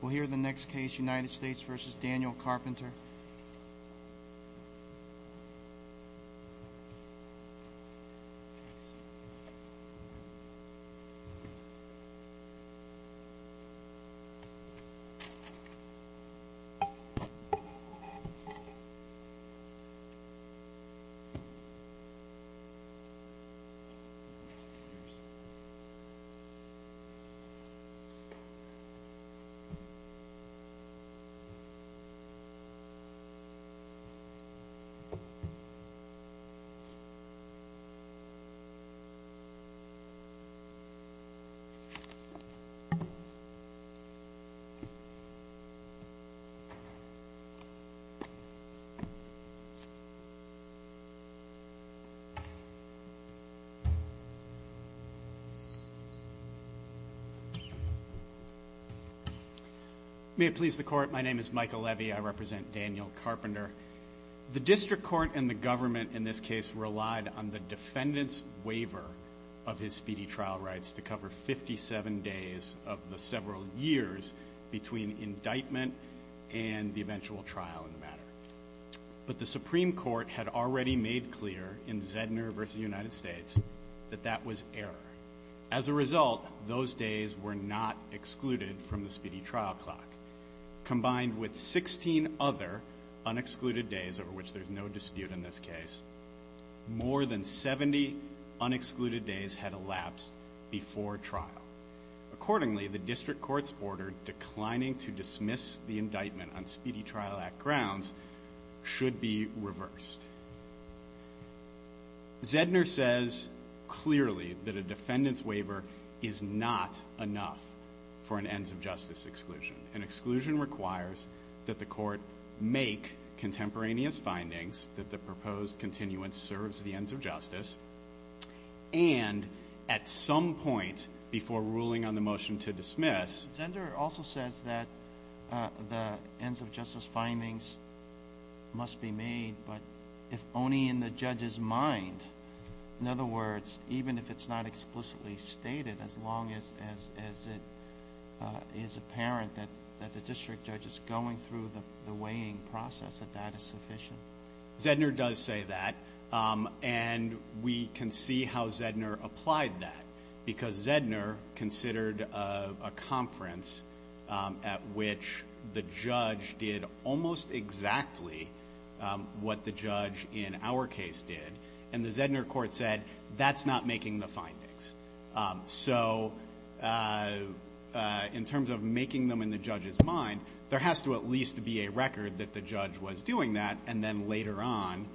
We'll hear the next case, United States v. Daniel Carpenter. May it please the Court, my name is Michael Levy. I represent Daniel Carpenter. The district court and the government in this case relied on the defendant's waiver of his speedy trial rights to cover 57 days of the several years between indictment and the eventual trial in the matter. But the Supreme Court had already made clear in Zedner v. United States that that was error. As a result, those days were not excluded from the speedy trial clock. Combined with 16 other unexcluded days over which there's no dispute in this case, more than 70 unexcluded days had elapsed before trial. Accordingly, the district court's order declining to dismiss the indictment on Speedy Trial Act grounds should be reversed. Zedner says clearly that a defendant's waiver is not enough for an ends-of-justice exclusion. An exclusion requires that the court make contemporaneous findings that the proposed continuance serves the ends of justice, and at some point before ruling on the motion to dismiss. Zedner also says that the ends-of-justice findings must be made, but if only in the judge's mind. In other words, even if it's not explicitly stated, as long as it is apparent that the district judge is going through the weighing process, that that is sufficient. Zedner does say that, and we can see how Zedner applied that. Because Zedner considered a conference at which the judge did almost exactly what the judge in our case did, and the Zedner court said, that's not making the findings. So in terms of making them in the judge's mind, there has to at least be a record that the judge was doing that, and then later on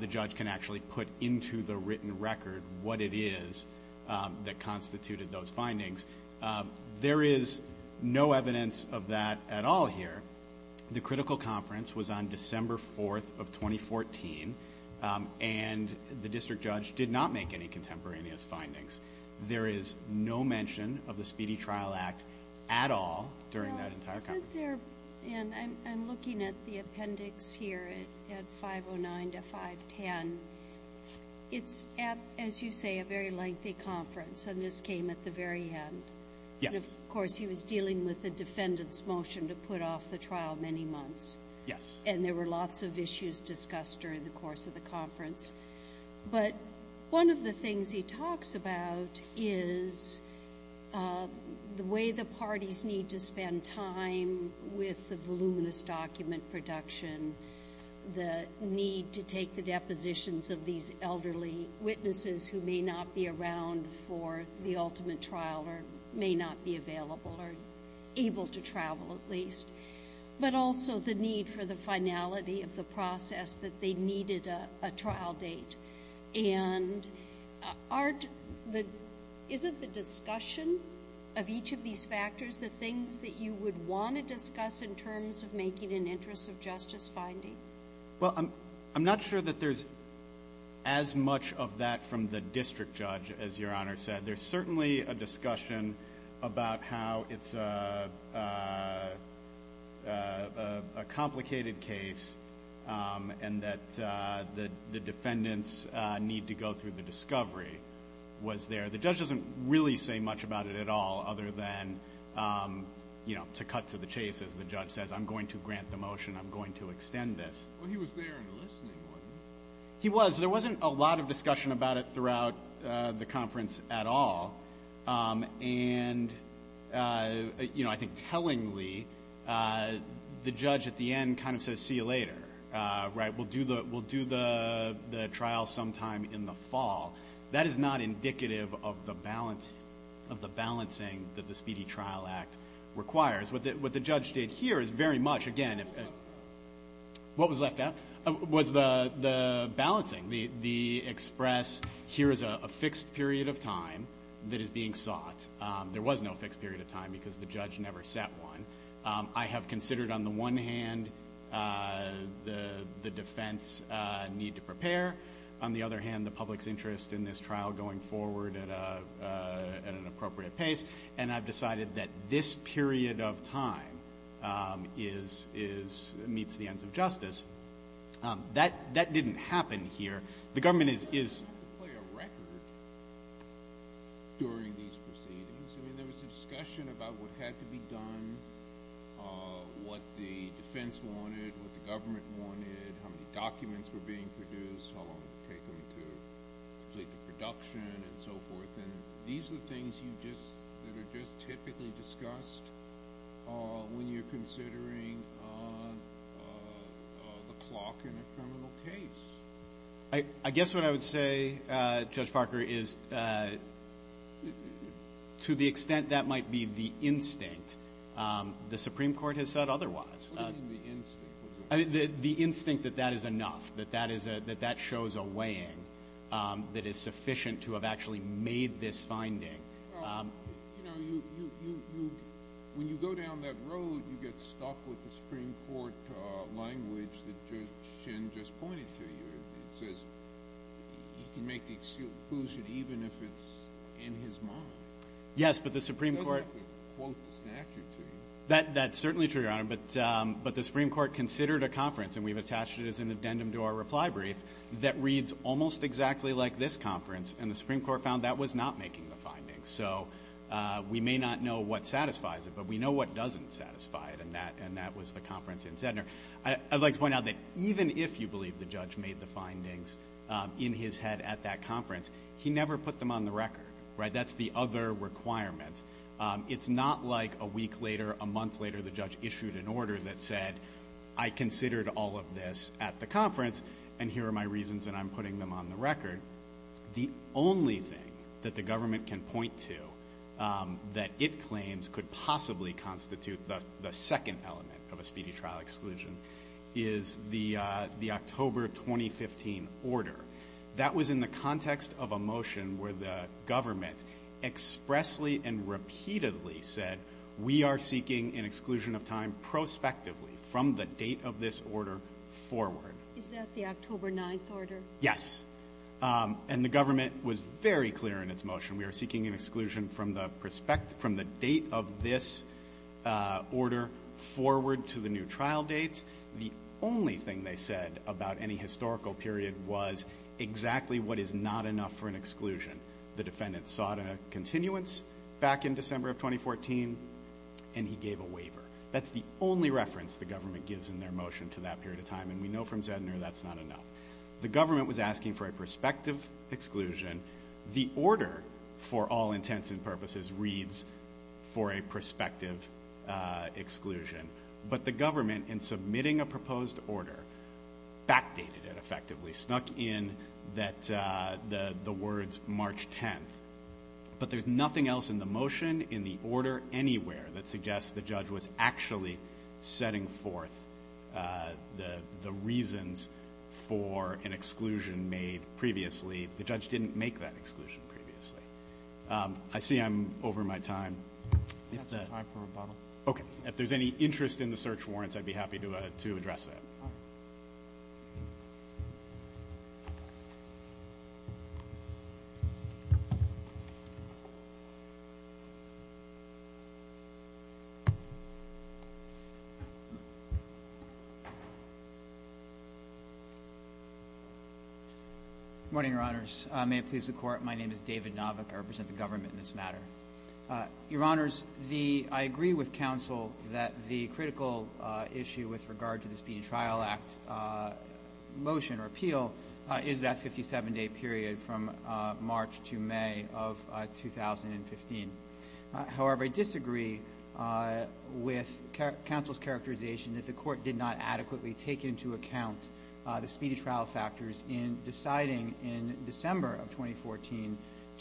the judge can actually put into the written record what it is that constituted those findings. There is no evidence of that at all here. The critical conference was on December 4th of 2014, and the district judge did not make any contemporaneous findings. There is no mention of the Speedy Trial Act at all during that entire conference. You said there, and I'm looking at the appendix here at 509 to 510, it's at, as you say, a very lengthy conference, and this came at the very end. Yes. Of course, he was dealing with the defendant's motion to put off the trial many months. Yes. And there were lots of issues discussed during the course of the conference. But one of the things he talks about is the way the parties need to spend time with the voluminous document production, the need to take the depositions of these elderly witnesses who may not be around for the ultimate trial or may not be available or able to travel at least, but also the need for the finality of the process that they needed a trial date. And isn't the discussion of each of these factors the things that you would want to discuss in terms of making an interest of justice finding? Well, I'm not sure that there's as much of that from the district judge as Your Honor said. There's certainly a discussion about how it's a complicated case and that the defendants need to go through the discovery was there. The judge doesn't really say much about it at all other than, you know, to cut to the chase as the judge says, I'm going to grant the motion, I'm going to extend this. Well, he was there and listening, wasn't he? He was. So there wasn't a lot of discussion about it throughout the conference at all. And, you know, I think tellingly the judge at the end kind of says, see you later, right? We'll do the trial sometime in the fall. That is not indicative of the balancing that the Speedy Trial Act requires. What the judge did here is very much, again, what was left out was the balancing, the express here is a fixed period of time that is being sought. There was no fixed period of time because the judge never set one. I have considered on the one hand the defense need to prepare. On the other hand, the public's interest in this trial going forward at an appropriate pace. And I've decided that this period of time is, meets the ends of justice. That didn't happen here. The government is. You don't have to play a record during these proceedings. I mean, there was a discussion about what had to be done, what the defense wanted, what the government wanted, how many documents were being produced, how long it would take them to complete the production and so forth. And these are the things that are just typically discussed when you're considering the clock in a criminal case. I guess what I would say, Judge Parker, is to the extent that might be the instinct, the Supreme Court has said otherwise. What do you mean the instinct? The instinct that that is enough, that that shows a weighing that is sufficient to have actually made this finding. When you go down that road, you get stuck with the Supreme Court language that Judge Shin just pointed to you. It says you can make the excuse even if it's in his mind. Yes, but the Supreme Court. He doesn't have to quote the statute to you. That's certainly true, Your Honor, but the Supreme Court considered a conference, and we've attached it as an addendum to our reply brief, that reads almost exactly like this conference, and the Supreme Court found that was not making the findings. So we may not know what satisfies it, but we know what doesn't satisfy it, and that was the conference in Sednor. I'd like to point out that even if you believe the judge made the findings in his head at that conference, he never put them on the record. That's the other requirement. It's not like a week later, a month later, the judge issued an order that said, I considered all of this at the conference, and here are my reasons, and I'm putting them on the record. The only thing that the government can point to that it claims could possibly constitute the second element of a speedy trial exclusion is the October 2015 order. That was in the context of a motion where the government expressly and repeatedly said, we are seeking an exclusion of time prospectively from the date of this order forward. Is that the October 9th order? Yes. And the government was very clear in its motion. We are seeking an exclusion from the date of this order forward to the new trial dates. The only thing they said about any historical period was exactly what is not enough for an exclusion. The defendant sought a continuance back in December of 2014, and he gave a waiver. That's the only reference the government gives in their motion to that period of time, and we know from Sednor that's not enough. The government was asking for a prospective exclusion. The order, for all intents and purposes, reads for a prospective exclusion. But the government, in submitting a proposed order, backdated it effectively, snuck in that the words March 10th. But there's nothing else in the motion, in the order anywhere, that suggests the judge was actually setting forth the reasons for an exclusion made previously. The judge didn't make that exclusion previously. I see I'm over my time. That's the time for rebuttal. Okay. If there's any interest in the search warrants, I'd be happy to address that. All right. Good morning, Your Honors. May it please the Court, my name is David Novick. I represent the government in this matter. Your Honors, the – I agree with counsel that the critical issue with regard to the Speedy Trial Act motion or appeal is that 57-day period from March to May of 2015. However, I disagree with counsel's characterization that the Court did not adequately take into account the speedy trial factors in deciding in December of 2014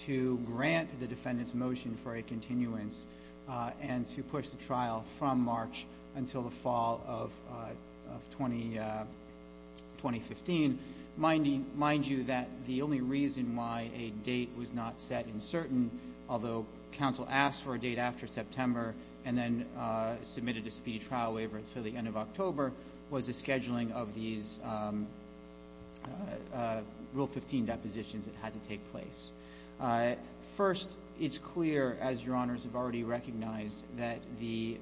to grant the defendant's motion for a continuance and to push the trial from March until the fall of 2015. Mind you that the only reason why a date was not set in certain, although counsel asked for a date after September and then submitted a speedy trial waiver until the end of October, was the scheduling of these Rule 15 depositions that had to take place. First, it's clear, as Your Honors have already recognized, that the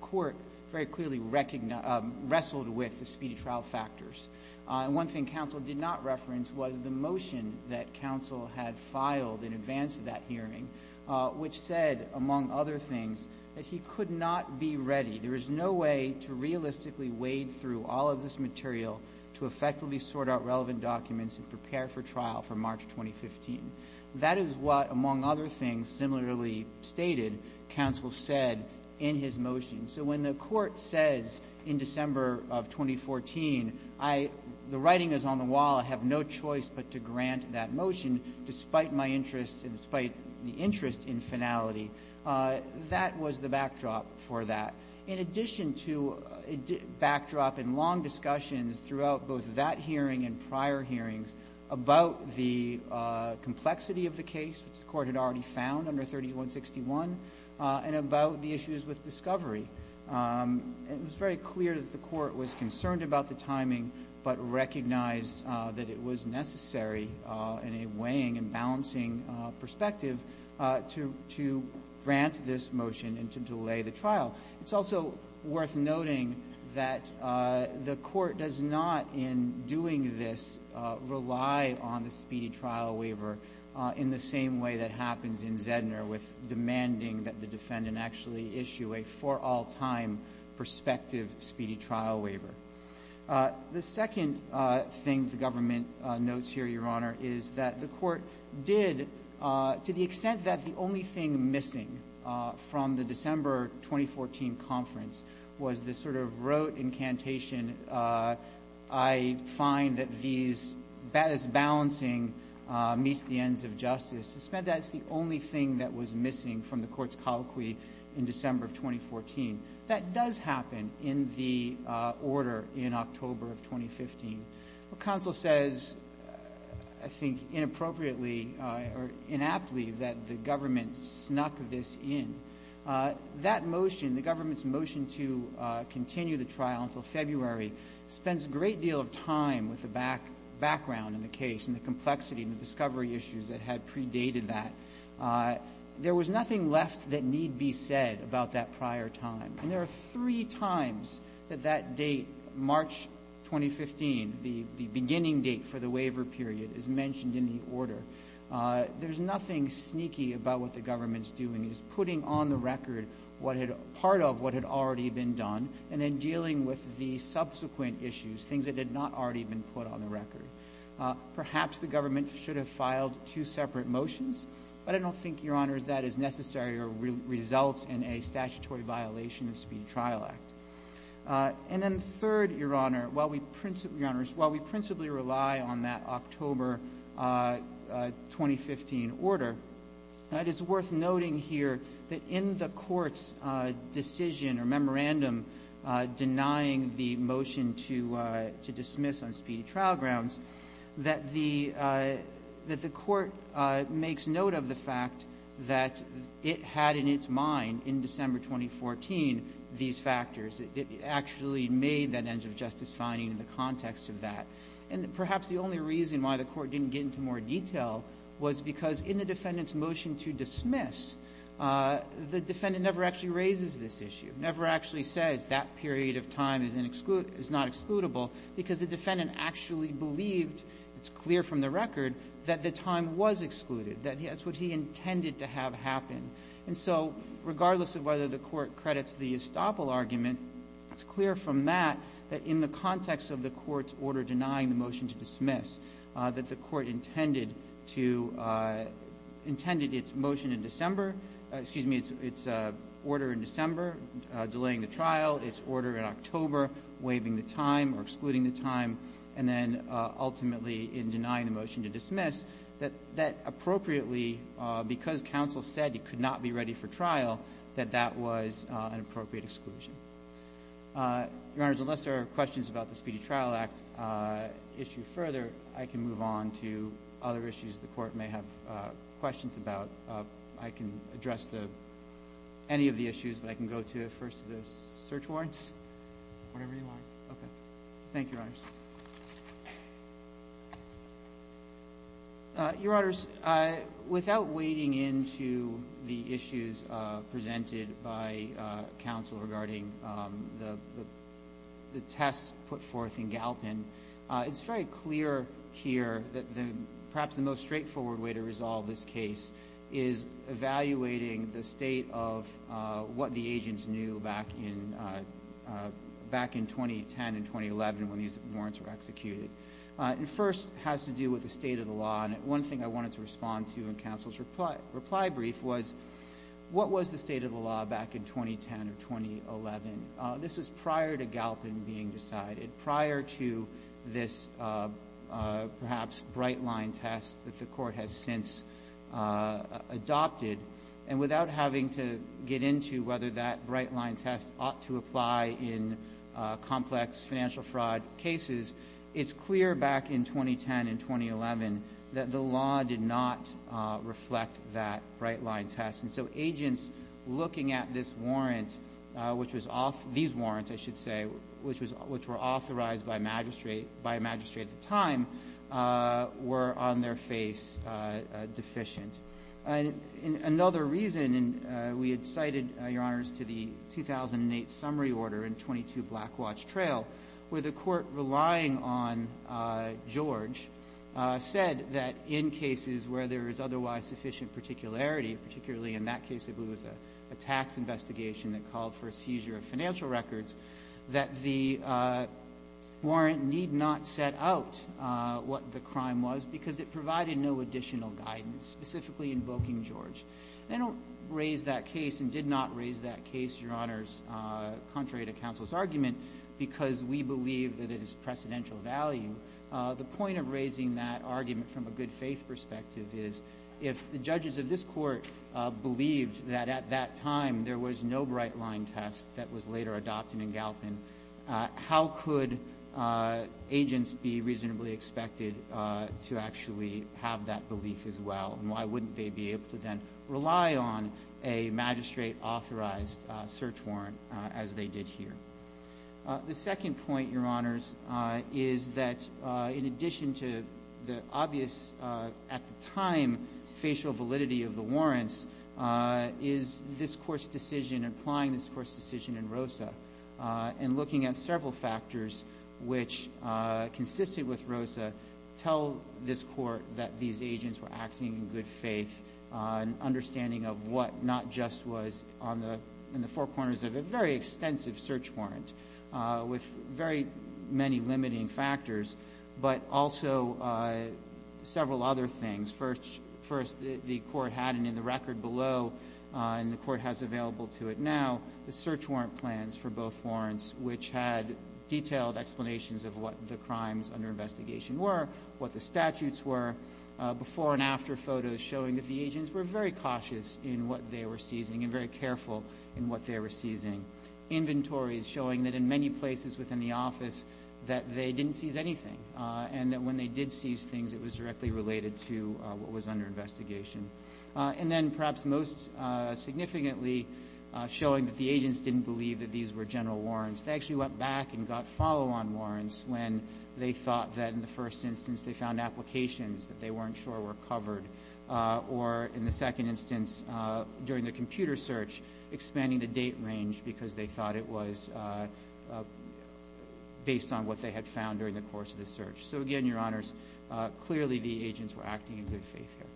Court very clearly wrestled with the speedy trial factors. One thing counsel did not reference was the motion that counsel had filed in advance of that hearing, which said, among other things, that he could not be ready. There is no way to realistically wade through all of this material to effectively sort out That is what, among other things, similarly stated counsel said in his motion. So when the Court says in December of 2014, the writing is on the wall, I have no choice but to grant that motion despite my interest and despite the interest in finality, that was the backdrop for that. In addition to backdrop and long discussions throughout both that hearing and prior hearings about the complexity of the case, which the Court had already found under 3161, and about the issues with discovery, it was very clear that the Court was concerned about the timing but recognized that it was necessary in a weighing and balancing perspective to grant this motion and to delay the trial. It's also worth noting that the Court does not, in doing this, rely on the speedy trial waiver in the same way that happens in Zedner with demanding that the defendant actually issue a for-all-time prospective speedy trial waiver. The second thing the government notes here, Your Honor, is that the Court did, to the extent that the only thing missing from the December 2014 conference was the sort of rote incantation, I find that these as balancing meets the ends of justice, it's the only thing that was missing from the Court's colloquy in December of 2014. That does happen in the order in October of 2015. What counsel says, I think inappropriately or inaptly, that the government snuck this in, that motion, the government's motion to continue the trial until February, spends a great deal of time with the background in the case and the complexity and the discovery issues that had predated that. There was nothing left that need be said about that prior time. And there are three times that that date, March 2015, the beginning date for the waiver period, is mentioned in the order. There's nothing sneaky about what the government's doing. It's putting on the record part of what had already been done and then dealing with the subsequent issues, things that had not already been put on the record. Perhaps the government should have filed two separate motions, but I don't think, Your Honors, that is necessary or results in a statutory violation of the Speedy Trial Act. And then third, Your Honors, while we principally rely on that October 2015 order, it is worth noting here that in the Court's decision or memorandum denying the motion to dismiss on Speedy Trial grounds, that the Court makes note of the fact that it had in its mind in December 2014 these factors. It actually made that end-of-justice finding in the context of that. And perhaps the only reason why the Court didn't get into more detail was because in the defendant's motion to dismiss, the defendant never actually raises this issue, never actually says that period of time is not excludable, because the defendant actually believed, it's clear from the record, that the time was excluded, that that's what he intended to have happen. And so regardless of whether the Court credits the estoppel argument, it's clear from that that in the context of the Court's order denying the motion to dismiss, that the Court intended to – intended its motion in December – excuse me, its order in December delaying the trial, its order in October waiving the time or excluding the time, and then ultimately in denying the motion to dismiss, that that appropriately, because counsel said he could not be ready for trial, that that was an appropriate exclusion. Your Honors, unless there are questions about the Speedy Trial Act issue further, I can move on to other issues the Court may have questions about. I can address any of the issues, but I can go to the first of the search warrants. Whatever you like. Thank you, Your Honors. Your Honors, without wading into the issues presented by counsel regarding the tests put forth in Galpin, it's very clear here that perhaps the most straightforward way to resolve this case is evaluating the state of what the agents knew back in 2010 and 2011 when these warrants were executed. It first has to do with the state of the law. And one thing I wanted to respond to in counsel's reply brief was, what was the state of the law back in 2010 or 2011? This was prior to Galpin being decided, prior to this perhaps bright-line test that the Court has since adopted. And without having to get into whether that bright-line test ought to apply in complex financial fraud cases, it's clear back in 2010 and 2011 that the law did not reflect that bright-line test. And so agents looking at this warrant, which was off — these warrants, I should say, which were authorized by a magistrate at the time, were on their face deficient. And another reason, and we had cited, Your Honors, to the 2008 summary order in 22 Blackwatch Trail, where the Court, relying on George, said that in cases where there is otherwise sufficient particularity, and that case, I believe, was a tax investigation that called for a seizure of financial records, that the warrant need not set out what the crime was because it provided no additional guidance, specifically invoking George. And I don't raise that case and did not raise that case, Your Honors, contrary to counsel's argument, because we believe that it is precedential value. The point of raising that argument from a good-faith perspective is, if the judges of this Court believed that at that time there was no bright-line test that was later adopted in Galpin, how could agents be reasonably expected to actually have that belief as well? And why wouldn't they be able to then rely on a magistrate-authorized search warrant as they did here? The second point, Your Honors, is that, in addition to the obvious, at the time, facial validity of the warrants, is this Court's decision, applying this Court's decision in Rosa, and looking at several factors which, consistent with Rosa, tell this Court that these agents were acting in good faith, an understanding of what not just was in the four corners of a very extensive search warrant with very many limiting factors, but also several other things. First, the Court had, and in the record below, and the Court has available to it now, the search warrant plans for both warrants, which had detailed explanations of what the crimes under investigation were, what the statutes were, before and after photos showing that the agents were very cautious in what they were seizing and very careful in what they were seizing. Inventories showing that, in many places within the office, that they didn't seize anything, and that when they did seize things, it was directly related to what was under investigation. And then, perhaps most significantly, showing that the agents didn't believe that these were general warrants. They actually went back and got follow-on warrants when they thought that, in the first instance, they found applications that they weren't sure were covered, or, in the second instance, during the computer search, expanding the date range because they thought it was based on what they had found during the course of the search. So, again, Your Honors, clearly the agents were acting in good faith here.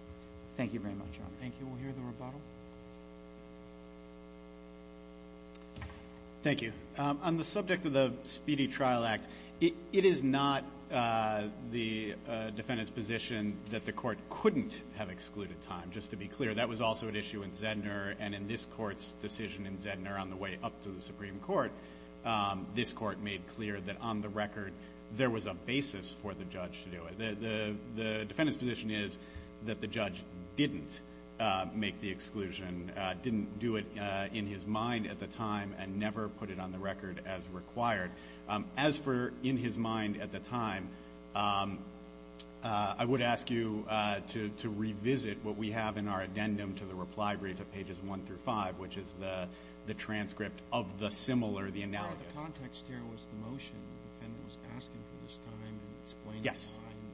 Thank you very much, Your Honors. Thank you. We'll hear the rebuttal. Thank you. On the subject of the Speedy Trial Act, it is not the defendant's position that the court couldn't have excluded time. Just to be clear, that was also an issue in Zedner, and in this Court's decision in Zedner on the way up to the Supreme Court, this Court made clear that, on the record, there was a basis for the judge to do it. The defendant's position is that the judge didn't make the exclusion, didn't do it in his mind at the time, and never put it on the record as required. As for in his mind at the time, I would ask you to revisit what we have in our addendum to the reply brief at pages 1 through 5, which is the transcript of the similar, the analysis. Part of the context here was the motion. The defendant was asking for this time to explain his mind,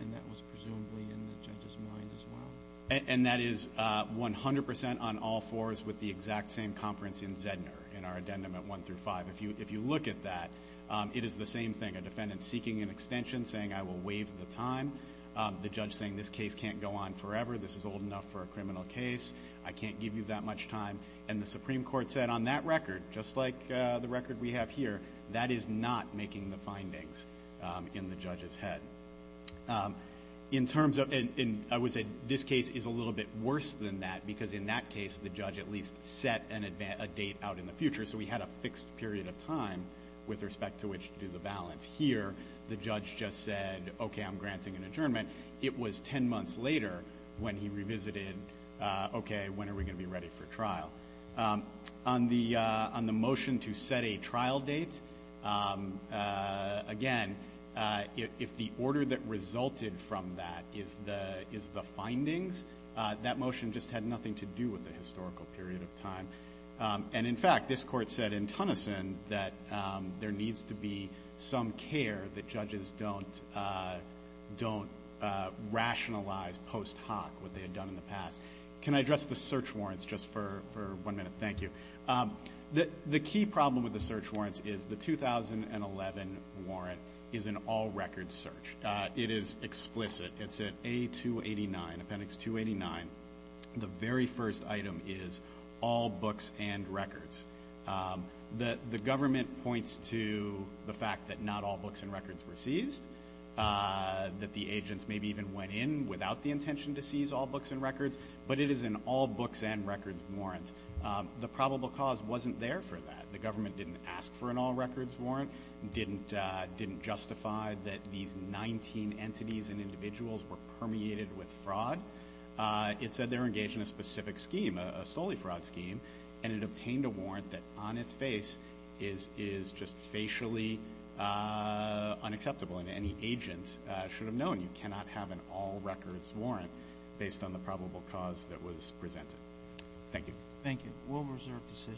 and that was presumably in the judge's mind as well. And that is 100 percent on all fours with the exact same conference in Zedner in our addendum at 1 through 5. If you look at that, it is the same thing. A defendant seeking an extension, saying, I will waive the time. The judge saying, this case can't go on forever. This is old enough for a criminal case. I can't give you that much time. And the Supreme Court said on that record, just like the record we have here, that is not making the findings in the judge's head. In terms of, I would say this case is a little bit worse than that, because in that case the judge at least set a date out in the future, so we had a fixed period of time with respect to which to do the balance. Here the judge just said, okay, I'm granting an adjournment. It was ten months later when he revisited, okay, when are we going to be ready for trial. On the motion to set a trial date, again, if the order that resulted from that is the findings, that motion just had nothing to do with the historical period of time. And, in fact, this court said in Tunison that there needs to be some care that judges don't rationalize post hoc what they had done in the past. Can I address the search warrants just for one minute? Thank you. The key problem with the search warrants is the 2011 warrant is an all-record search. It is explicit. It's at A289, appendix 289. The very first item is all books and records. The government points to the fact that not all books and records were seized, that the agents maybe even went in without the intention to seize all books and records, but it is an all-books-and-records warrant. The probable cause wasn't there for that. The government didn't ask for an all-records warrant, didn't justify that these 19 entities and individuals were permeated with fraud. It said they were engaged in a specific scheme, a solely fraud scheme, and it obtained a warrant that on its face is just facially unacceptable, and any agent should have known you cannot have an all-records warrant based on the probable cause that was presented. Thank you. Thank you. Rule of reserve decision.